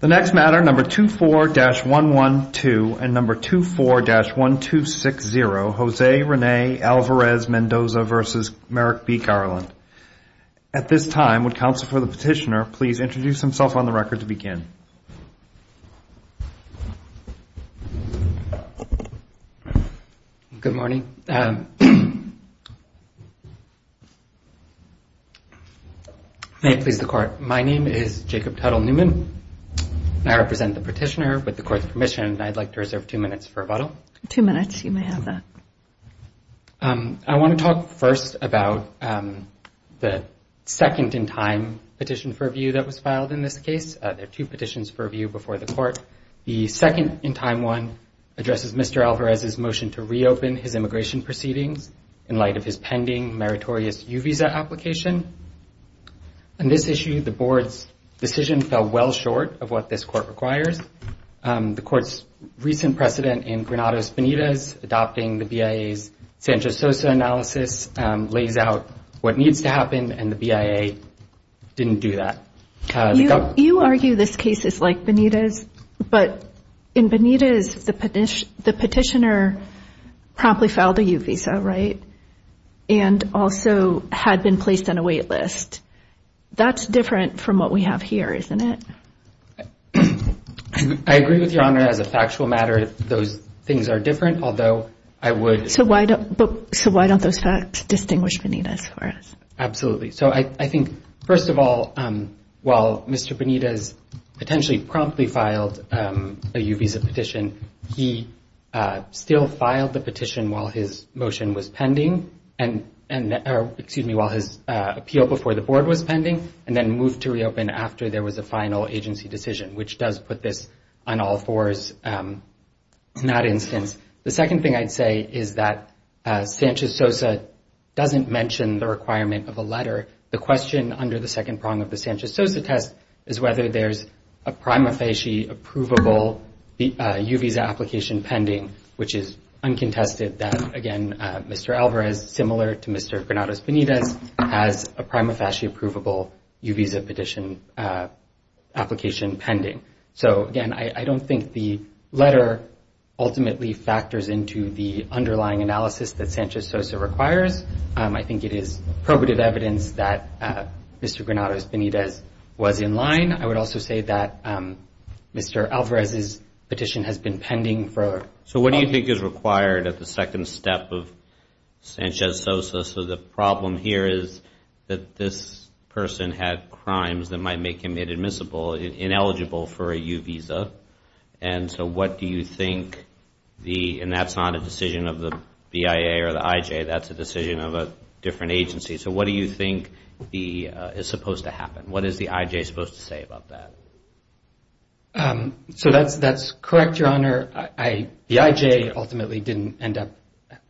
The next matter, number 24-112 and number 24-1260, Jose Rene Alvarez Mendoza v. Merrick B. Garland. At this time, would counsel for the petitioner please introduce himself on the record to begin. Good morning. May it please the court, my name is Jacob Tuttle Newman and I represent the petitioner. With the court's permission, I'd like to reserve two minutes for rebuttal. Two minutes, you may have that. I want to talk first about the second-in-time petition for review that was filed in this case. There are two petitions for review before the court. The second-in-time one addresses Mr. Alvarez's motion to reopen his immigration proceedings in light of his pending meritorious U visa application. On this issue, the board's decision fell well short of what this court requires. The court's recent precedent in Granados Benitez adopting the BIA's San Jose analysis lays out what needs to happen and the BIA didn't do that. You argue this case is like Benitez, but in Benitez, the petitioner promptly filed a U visa, right? And also had been placed on a wait list. That's different from what we have here, isn't it? I agree with Your Honor, as a factual matter, those things are different, although I would So why don't those facts distinguish Benitez for us? Absolutely. So I think, first of all, while Mr. Benitez potentially promptly filed a U visa petition, he still filed the petition while his motion was pending, excuse me, while his appeal before the board was pending, and then moved to reopen after there was a final agency decision, which does put this on all fours in that instance. The second thing I'd say is that Sanchez-Sosa doesn't mention the requirement of a letter. The question under the second prong of the Sanchez-Sosa test is whether there's a prima facie approvable U visa application pending, which is uncontested that, again, Mr. Alvarez, similar to Mr. Granados Benitez, has a prima facie approvable U visa petition application pending. So, again, I don't think the letter ultimately factors into the underlying analysis that Sanchez-Sosa requires. I think it is probative evidence that Mr. Granados Benitez was in line. I would also say that Mr. Alvarez's petition has been pending for a while. So what do you think is required at the second step of Sanchez-Sosa? So the problem here is that this person had crimes that might make him inadmissible, ineligible for a U visa. And so what do you think the, and that's not a decision of the BIA or the IJ, that's a decision of a different agency. So what do you think is supposed to happen? What is the IJ supposed to say about that? So that's correct, Your Honor. The IJ ultimately didn't end up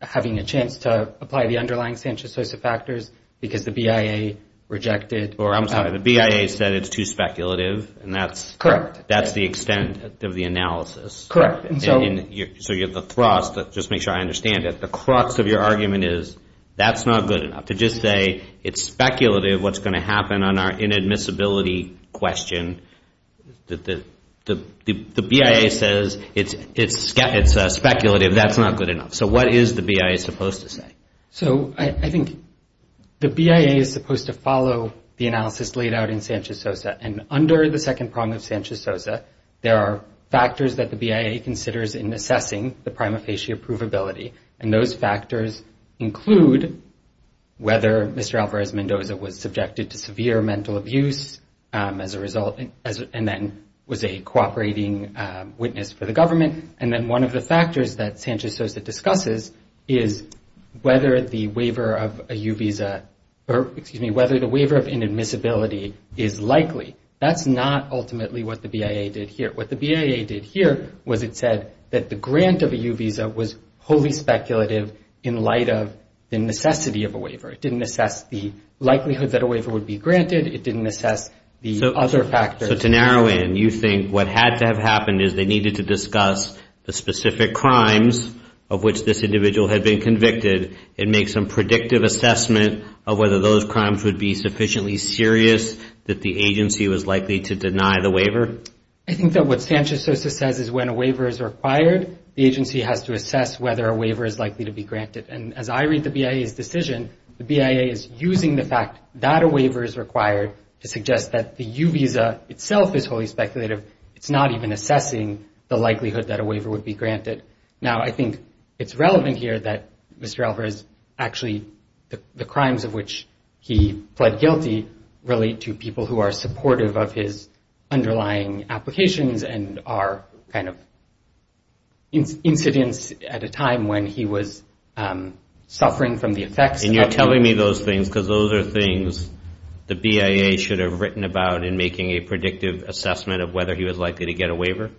having a chance to apply the underlying Sanchez-Sosa factors because the BIA rejected. I'm sorry, the BIA said it's too speculative and that's the extent of the analysis. Correct. So you have the thrust, just to make sure I understand it, the crux of your argument is that's not good enough. To just say it's speculative what's going to happen on our inadmissibility question, the BIA says it's speculative, that's not good enough. So what is the BIA supposed to say? So I think the BIA is supposed to follow the analysis laid out in Sanchez-Sosa. And under the second prong of Sanchez-Sosa, there are factors that the BIA considers in assessing the prima facie approvability. And those factors include whether Mr. Alvarez-Mendoza was subjected to severe mental abuse as a result and then was a cooperating witness for the government. And then one of the factors that Sanchez-Sosa discusses is whether the waiver of a U visa, or excuse me, whether the waiver of inadmissibility is likely. That's not ultimately what the BIA did here. What the BIA did here was it said that the grant of a U visa was wholly speculative in light of the necessity of a waiver. It didn't assess the likelihood that a waiver would be granted. It didn't assess the other factors. So to narrow in, you think what had to have happened is they needed to discuss the specific crimes of which this individual had been convicted and make some predictive assessment of whether those crimes would be sufficiently serious that the agency was likely to deny the waiver? However, I think that what Sanchez-Sosa says is when a waiver is required, the agency has to assess whether a waiver is likely to be granted. And as I read the BIA's decision, the BIA is using the fact that a waiver is required to suggest that the U visa itself is wholly speculative. It's not even assessing the likelihood that a waiver would be granted. Now, I think it's relevant here that Mr. Alvarez actually the crimes of which he pled guilty relate to people who are supportive of his underlying applications and are kind of incidents at a time when he was suffering from the effects. And you're telling me those things because those are things the BIA should have written about in making a predictive assessment of whether he was likely to get a waiver?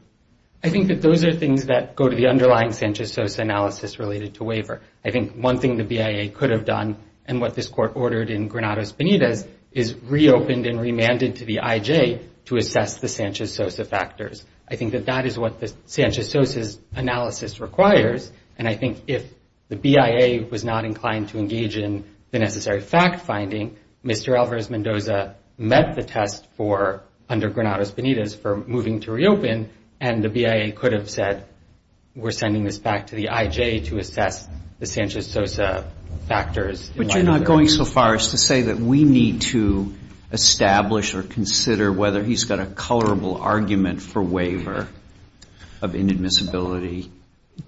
I think that those are things that go to the underlying Sanchez-Sosa analysis related to waiver. I think one thing the BIA could have done and what this court ordered in Granados Benitez is reopened and remanded to the IJ to assess the Sanchez-Sosa factors. I think that that is what the Sanchez-Sosa's analysis requires. And I think if the BIA was not inclined to engage in the necessary fact finding, Mr. Alvarez-Mendoza met the test for under Granados Benitez for moving to reopen and the BIA could have said we're sending this back to the IJ to assess the Sanchez-Sosa factors. But you're not going so far as to say that we need to establish or consider whether he's got a colorable argument for waiver of inadmissibility.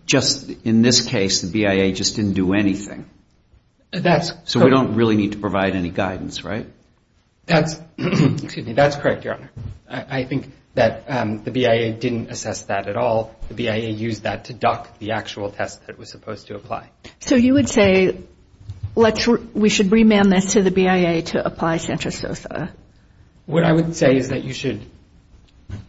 Just in this case, the BIA just didn't do anything. So we don't really need to provide any guidance, right? That's correct, Your Honor. I think that the BIA didn't assess that at all. The BIA used that to duck the actual test that was supposed to apply. So you would say we should remand this to the BIA to apply Sanchez-Sosa? What I would say is that you should,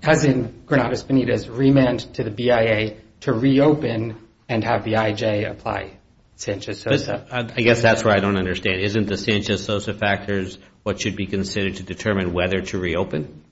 as in Granados Benitez, remand to the BIA to reopen and have the IJ apply Sanchez-Sosa. I guess that's what I don't understand. Isn't the Sanchez-Sosa factors what should be considered to determine whether to reopen?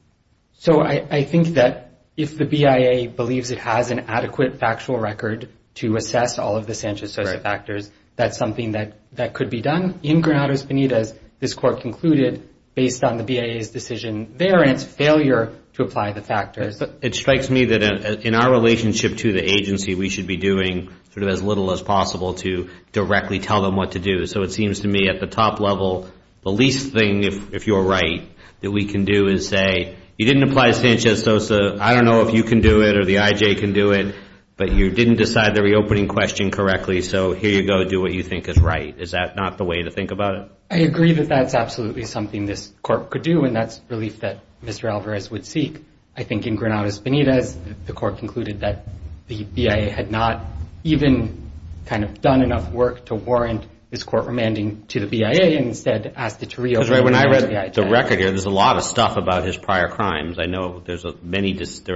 So I think that if the BIA believes it has an adequate factual record to assess all of the Sanchez-Sosa factors, that's something that could be done. In Granados Benitez, this court concluded based on the BIA's decision there and its failure to apply the factors. It strikes me that in our relationship to the agency, we should be doing sort of as little as possible to directly tell them what to do. So it seems to me at the top level, the least thing, if you're right, that we can do is say, you didn't apply Sanchez-Sosa, I don't know if you can do it or the IJ can do it, but you didn't decide the reopening question correctly, so here you go, do what you think is right. Is that not the way to think about it? I agree that that's absolutely something this court could do, and that's relief that Mr. Alvarez would seek. I think in Granados Benitez, the court concluded that the BIA had not even kind of done enough work to warrant this court remanding to the BIA and instead asked it to reopen. That's right. When I read the record, there's a lot of stuff about his prior crimes. I know there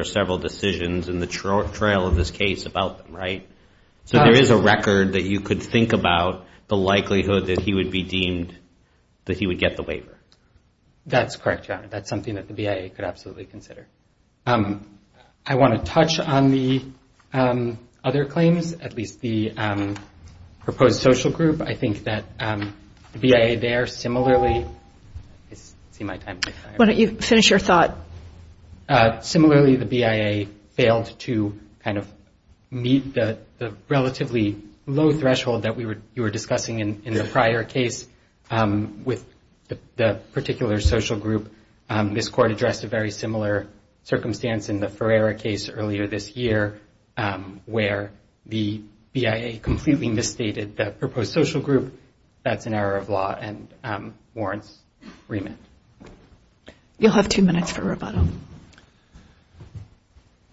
are several decisions in the trail of this case about them, right? So there is a record that you could think about the likelihood that he would be deemed, that he would get the waiver. That's correct, Your Honor. That's something that the BIA could absolutely consider. I want to touch on the other claims, at least the proposed social group. I think that the BIA there similarly – I see my time's running out. Why don't you finish your thought? Similarly, the BIA failed to kind of meet the relatively low threshold that you were discussing in the prior case with the particular social group. This court addressed a very similar circumstance in the Ferreira case earlier this year where the BIA completely misstated the proposed social group. That's an error of law and warrants remand. You'll have two minutes for rebuttal.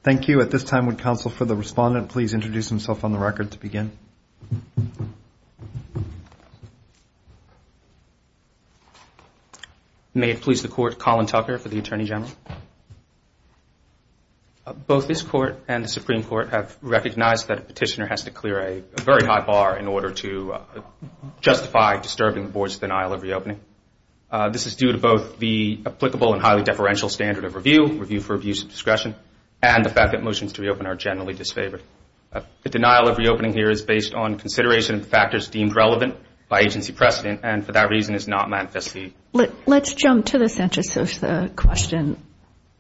Thank you. At this time, would counsel for the respondent please introduce himself on the record to begin? May it please the Court, Colin Tucker for the Attorney General. Both this Court and the Supreme Court have recognized that a petitioner has to clear a very high bar in order to justify disturbing the Board's denial of reopening. This is due to both the applicable and highly deferential standard of review, review for abuse of discretion, and the fact that motions to reopen are generally disfavored. The denial of reopening here is based on consideration of factors deemed relevant by agency precedent and for that reason is not manifestly – Let's jump to the CentraSOSA question.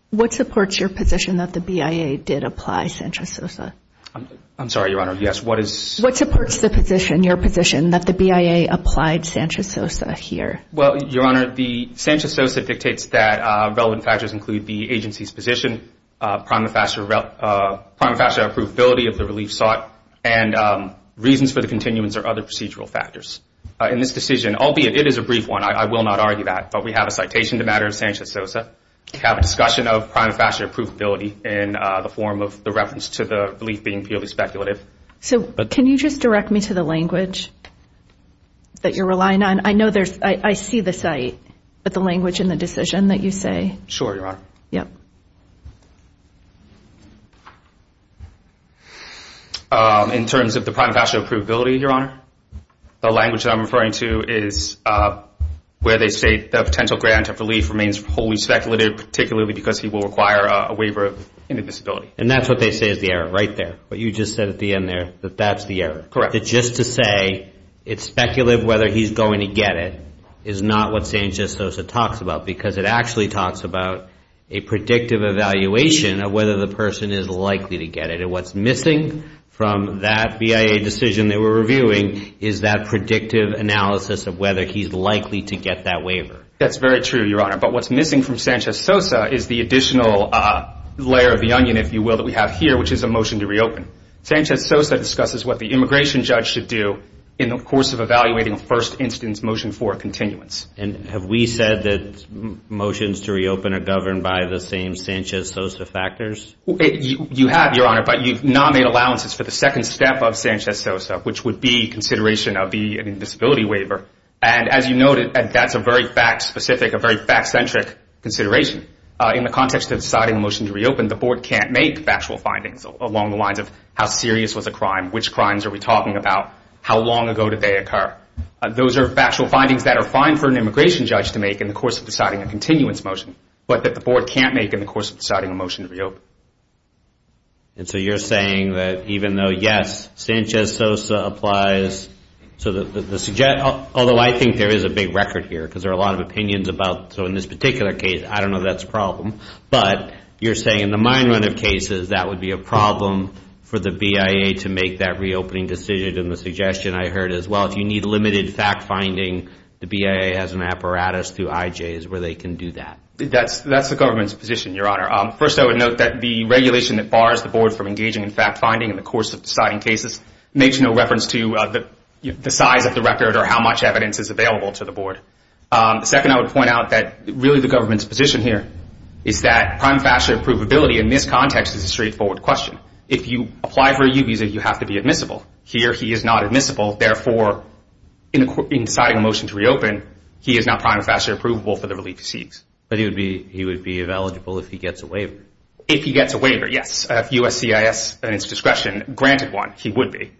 What supports your position that the BIA did apply CentraSOSA? I'm sorry, Your Honor. Yes, what is – What supports the position, your position, that the BIA applied CentraSOSA here? Well, Your Honor, the CentraSOSA dictates that relevant factors include the agency's position, prima facie approvability of the relief sought, and reasons for the continuance or other procedural factors. In this decision, albeit it is a brief one, I will not argue that, but we have a citation to the matter of CentraSOSA. We have a discussion of prima facie approvability in the form of the reference to the relief being purely speculative. So can you just direct me to the language that you're relying on? I know there's – I see the site, but the language in the decision that you say – Sure, Your Honor. Yeah. In terms of the prima facie approvability, Your Honor, the language that I'm referring to is where they say the potential grant of relief remains wholly speculative, particularly because he will require a waiver of any disability. And that's what they say is the error right there, what you just said at the end there, that that's the error. Correct. That just to say it's speculative whether he's going to get it is not what CentraSOSA talks about because it actually talks about a predictive evaluation of whether the person is likely to get it. And what's missing from that BIA decision that we're reviewing is that predictive analysis of whether he's likely to get that waiver. That's very true, Your Honor. But what's missing from CentraSOSA is the additional layer of the onion, if you will, that we have here, which is a motion to reopen. CentraSOSA discusses what the immigration judge should do in the course of evaluating a first instance motion for a continuance. And have we said that motions to reopen are governed by the same CentraSOSA factors? You have, Your Honor, but you've not made allowances for the second step of CentraSOSA, which would be consideration of the disability waiver. And as you noted, that's a very fact-specific, a very fact-centric consideration. In the context of deciding a motion to reopen, the board can't make factual findings along the lines of how serious was the crime, which crimes are we talking about, how long ago did they occur. Those are factual findings that are fine for an immigration judge to make in the course of deciding a continuance motion, but that the board can't make in the course of deciding a motion to reopen. And so you're saying that even though, yes, CentraSOSA applies, so although I think there is a big record here, because there are a lot of opinions about, so in this particular case, I don't know if that's a problem, but you're saying in the mind-run of cases, that would be a problem for the BIA to make that reopening decision. And the suggestion I heard is, well, if you need limited fact-finding, the BIA has an apparatus through IJs where they can do that. That's the government's position, Your Honor. First, I would note that the regulation that bars the board from engaging in fact-finding in the course of deciding cases makes no reference to the size of the record or how much evidence is available to the board. Second, I would point out that really the government's position here is that prima facie approvability in this context is a straightforward question. If you apply for a U visa, you have to be admissible. Here he is not admissible, therefore, in deciding a motion to reopen, he is not prima facie approvable for the relief he seeks. But he would be eligible if he gets a waiver? If he gets a waiver, yes. If USCIS, at its discretion, granted one, he would be.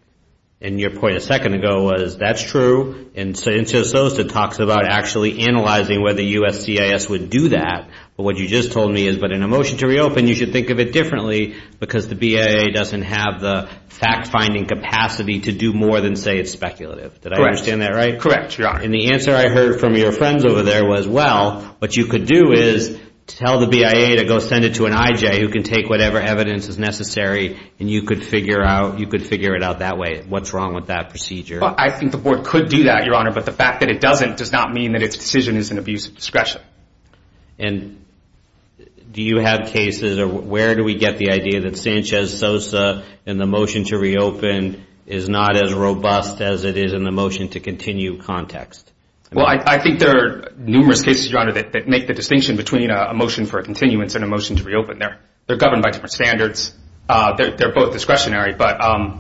And your point a second ago was that's true, and so it talks about actually analyzing whether USCIS would do that. But what you just told me is, but in a motion to reopen, you should think of it differently because the BIA doesn't have the fact-finding capacity to do more than say it's speculative. Correct. Did I understand that right? Correct, Your Honor. And the answer I heard from your friends over there was, well, what you could do is tell the BIA to go send it to an IJ who can take whatever evidence is necessary, and you could figure it out that way. What's wrong with that procedure? I think the Board could do that, Your Honor, but the fact that it doesn't does not mean that its decision is an abuse of discretion. And do you have cases, or where do we get the idea that Sanchez-Sosa in the motion to reopen is not as robust as it is in the motion to continue context? Well, I think there are numerous cases, Your Honor, that make the distinction between a motion for a continuance and a motion to reopen. They're governed by different standards. They're both discretionary. But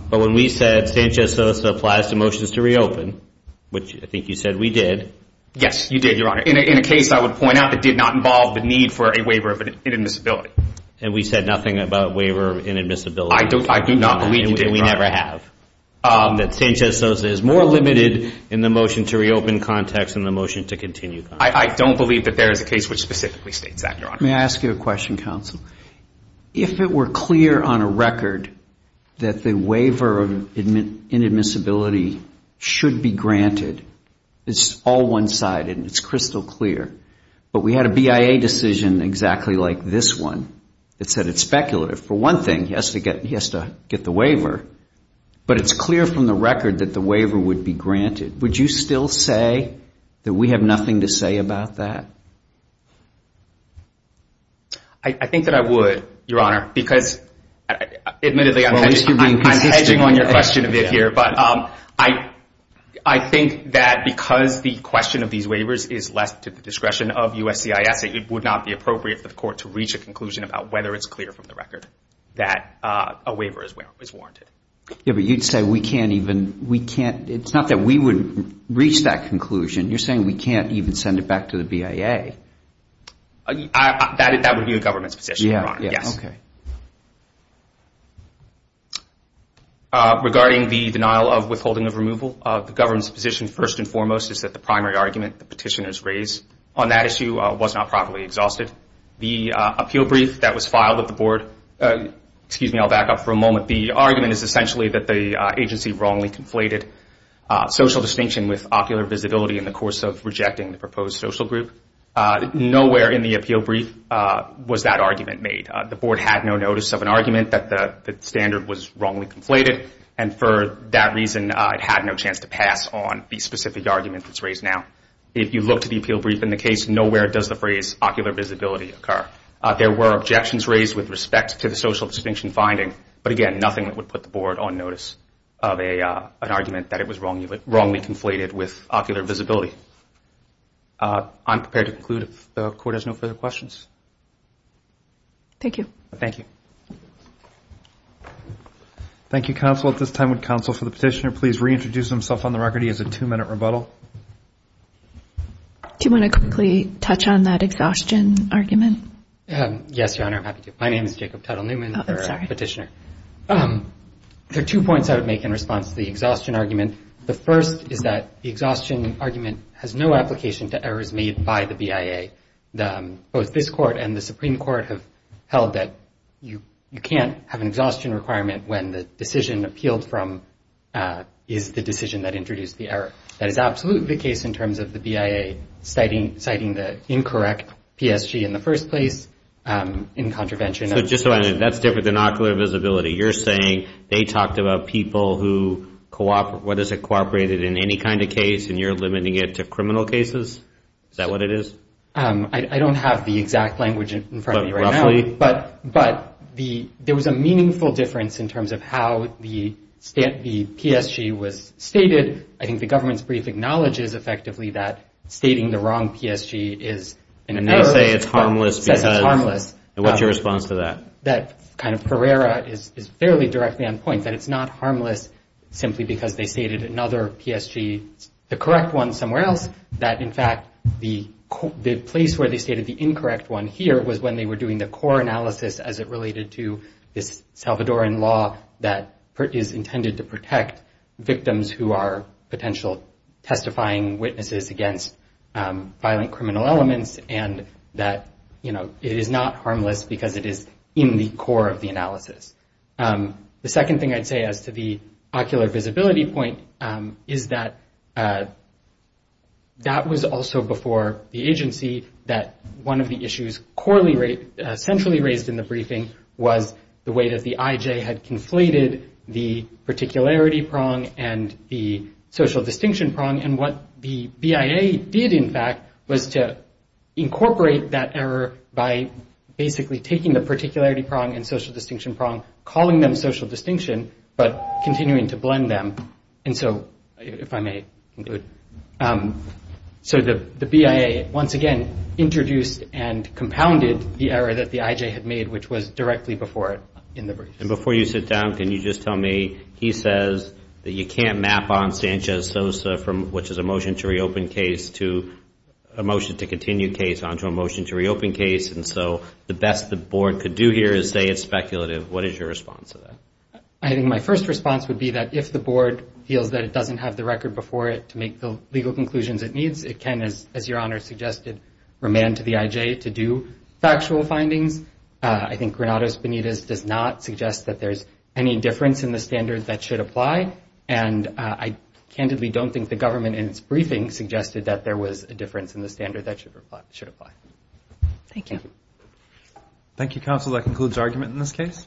when we said Sanchez-Sosa applies to motions to reopen, which I think you said we did. Yes, you did, Your Honor, in a case I would point out that did not involve the need for a waiver of inadmissibility. And we said nothing about waiver of inadmissibility? I do not believe you did, Your Honor. And we never have. That Sanchez-Sosa is more limited in the motion to reopen context than the motion to continue context. I don't believe that there is a case which specifically states that, Your Honor. May I ask you a question, counsel? If it were clear on a record that the waiver of inadmissibility should be granted, it's all one-sided and it's crystal clear, but we had a BIA decision exactly like this one that said it's speculative. For one thing, he has to get the waiver, but it's clear from the record that the waiver would be granted. Would you still say that we have nothing to say about that? I think that I would, Your Honor, because admittedly I'm hedging on your question a bit here, but I think that because the question of these waivers is less to the discretion of USCIS, it would not be appropriate for the court to reach a conclusion about whether it's clear from the record that a waiver is warranted. Yeah, but you'd say we can't even, we can't. It's not that we would reach that conclusion. You're saying we can't even send it back to the BIA. That would be the government's position, Your Honor. Yes. Okay. Regarding the denial of withholding of removal, the government's position first and foremost is that the primary argument, the petitioners raised on that issue was not properly exhausted. The appeal brief that was filed at the board, excuse me, I'll back up for a moment, the argument is essentially that the agency wrongly conflated social distinction with ocular visibility in the course of rejecting the proposed social group. Nowhere in the appeal brief was that argument made. The board had no notice of an argument that the standard was wrongly conflated, and for that reason it had no chance to pass on the specific argument that's raised now. If you look to the appeal brief in the case, nowhere does the phrase ocular visibility occur. There were objections raised with respect to the social distinction finding, but again nothing that would put the board on notice of an argument that it was wrongly conflated with ocular visibility. I'm prepared to conclude if the court has no further questions. Thank you. Thank you. Thank you, counsel. At this time would counsel for the petitioner please reintroduce himself on the record. He has a two-minute rebuttal. Do you want to quickly touch on that exhaustion argument? Yes, Your Honor, I'm happy to. My name is Jacob Tuttle Newman. Oh, I'm sorry. I'm a petitioner. There are two points I would make in response to the exhaustion argument. The first is that the exhaustion argument has no application to errors made by the BIA. Both this court and the Supreme Court have held that you can't have an exhaustion requirement when the decision appealed from is the decision that introduced the error. That is absolutely the case in terms of the BIA citing the incorrect PSG in the first place in contravention. Just a minute. That's different than ocular visibility. You're saying they talked about people who cooperated in any kind of case and you're limiting it to criminal cases? Is that what it is? I don't have the exact language in front of me right now. But roughly? But there was a meaningful difference in terms of how the PSG was stated. I think the government's brief acknowledges effectively that stating the wrong PSG is an error. And they say it's harmless because it says it's harmless. What's your response to that? That kind of Pereira is fairly directly on point, that it's not harmless simply because they stated another PSG, the correct one somewhere else, that in fact the place where they stated the incorrect one here was when they were doing the core analysis as it related to this Salvadoran law that is intended to protect victims who are potential testifying witnesses against violent criminal elements and that it is not harmless because it is in the core of the analysis. The second thing I'd say as to the ocular visibility point is that that was also before the agency that one of the issues centrally raised in the briefing was the way that the IJ had conflated the particularity prong and the social distinction prong and what the BIA did in fact was to incorporate that error by basically taking the particularity prong and social distinction prong, calling them social distinction, but continuing to blend them. And so if I may conclude. So the BIA once again introduced and compounded the error that the IJ had made, which was directly before it in the brief. And before you sit down, can you just tell me, he says that you can't map on Sanchez-Sosa, which is a motion to reopen case to a motion to continue case onto a motion to reopen case. And so the best the board could do here is say it's speculative. What is your response to that? I think my first response would be that if the board feels that it doesn't have the record before it to make the legal conclusions it needs, it can, as your Honor suggested, remand to the IJ to do factual findings. I think Granados-Benitez does not suggest that there's any difference in the standards that should apply. And I candidly don't think the government in its briefing suggested that there was a difference in the standard that should apply. Thank you. Thank you, counsel. That concludes argument in this case.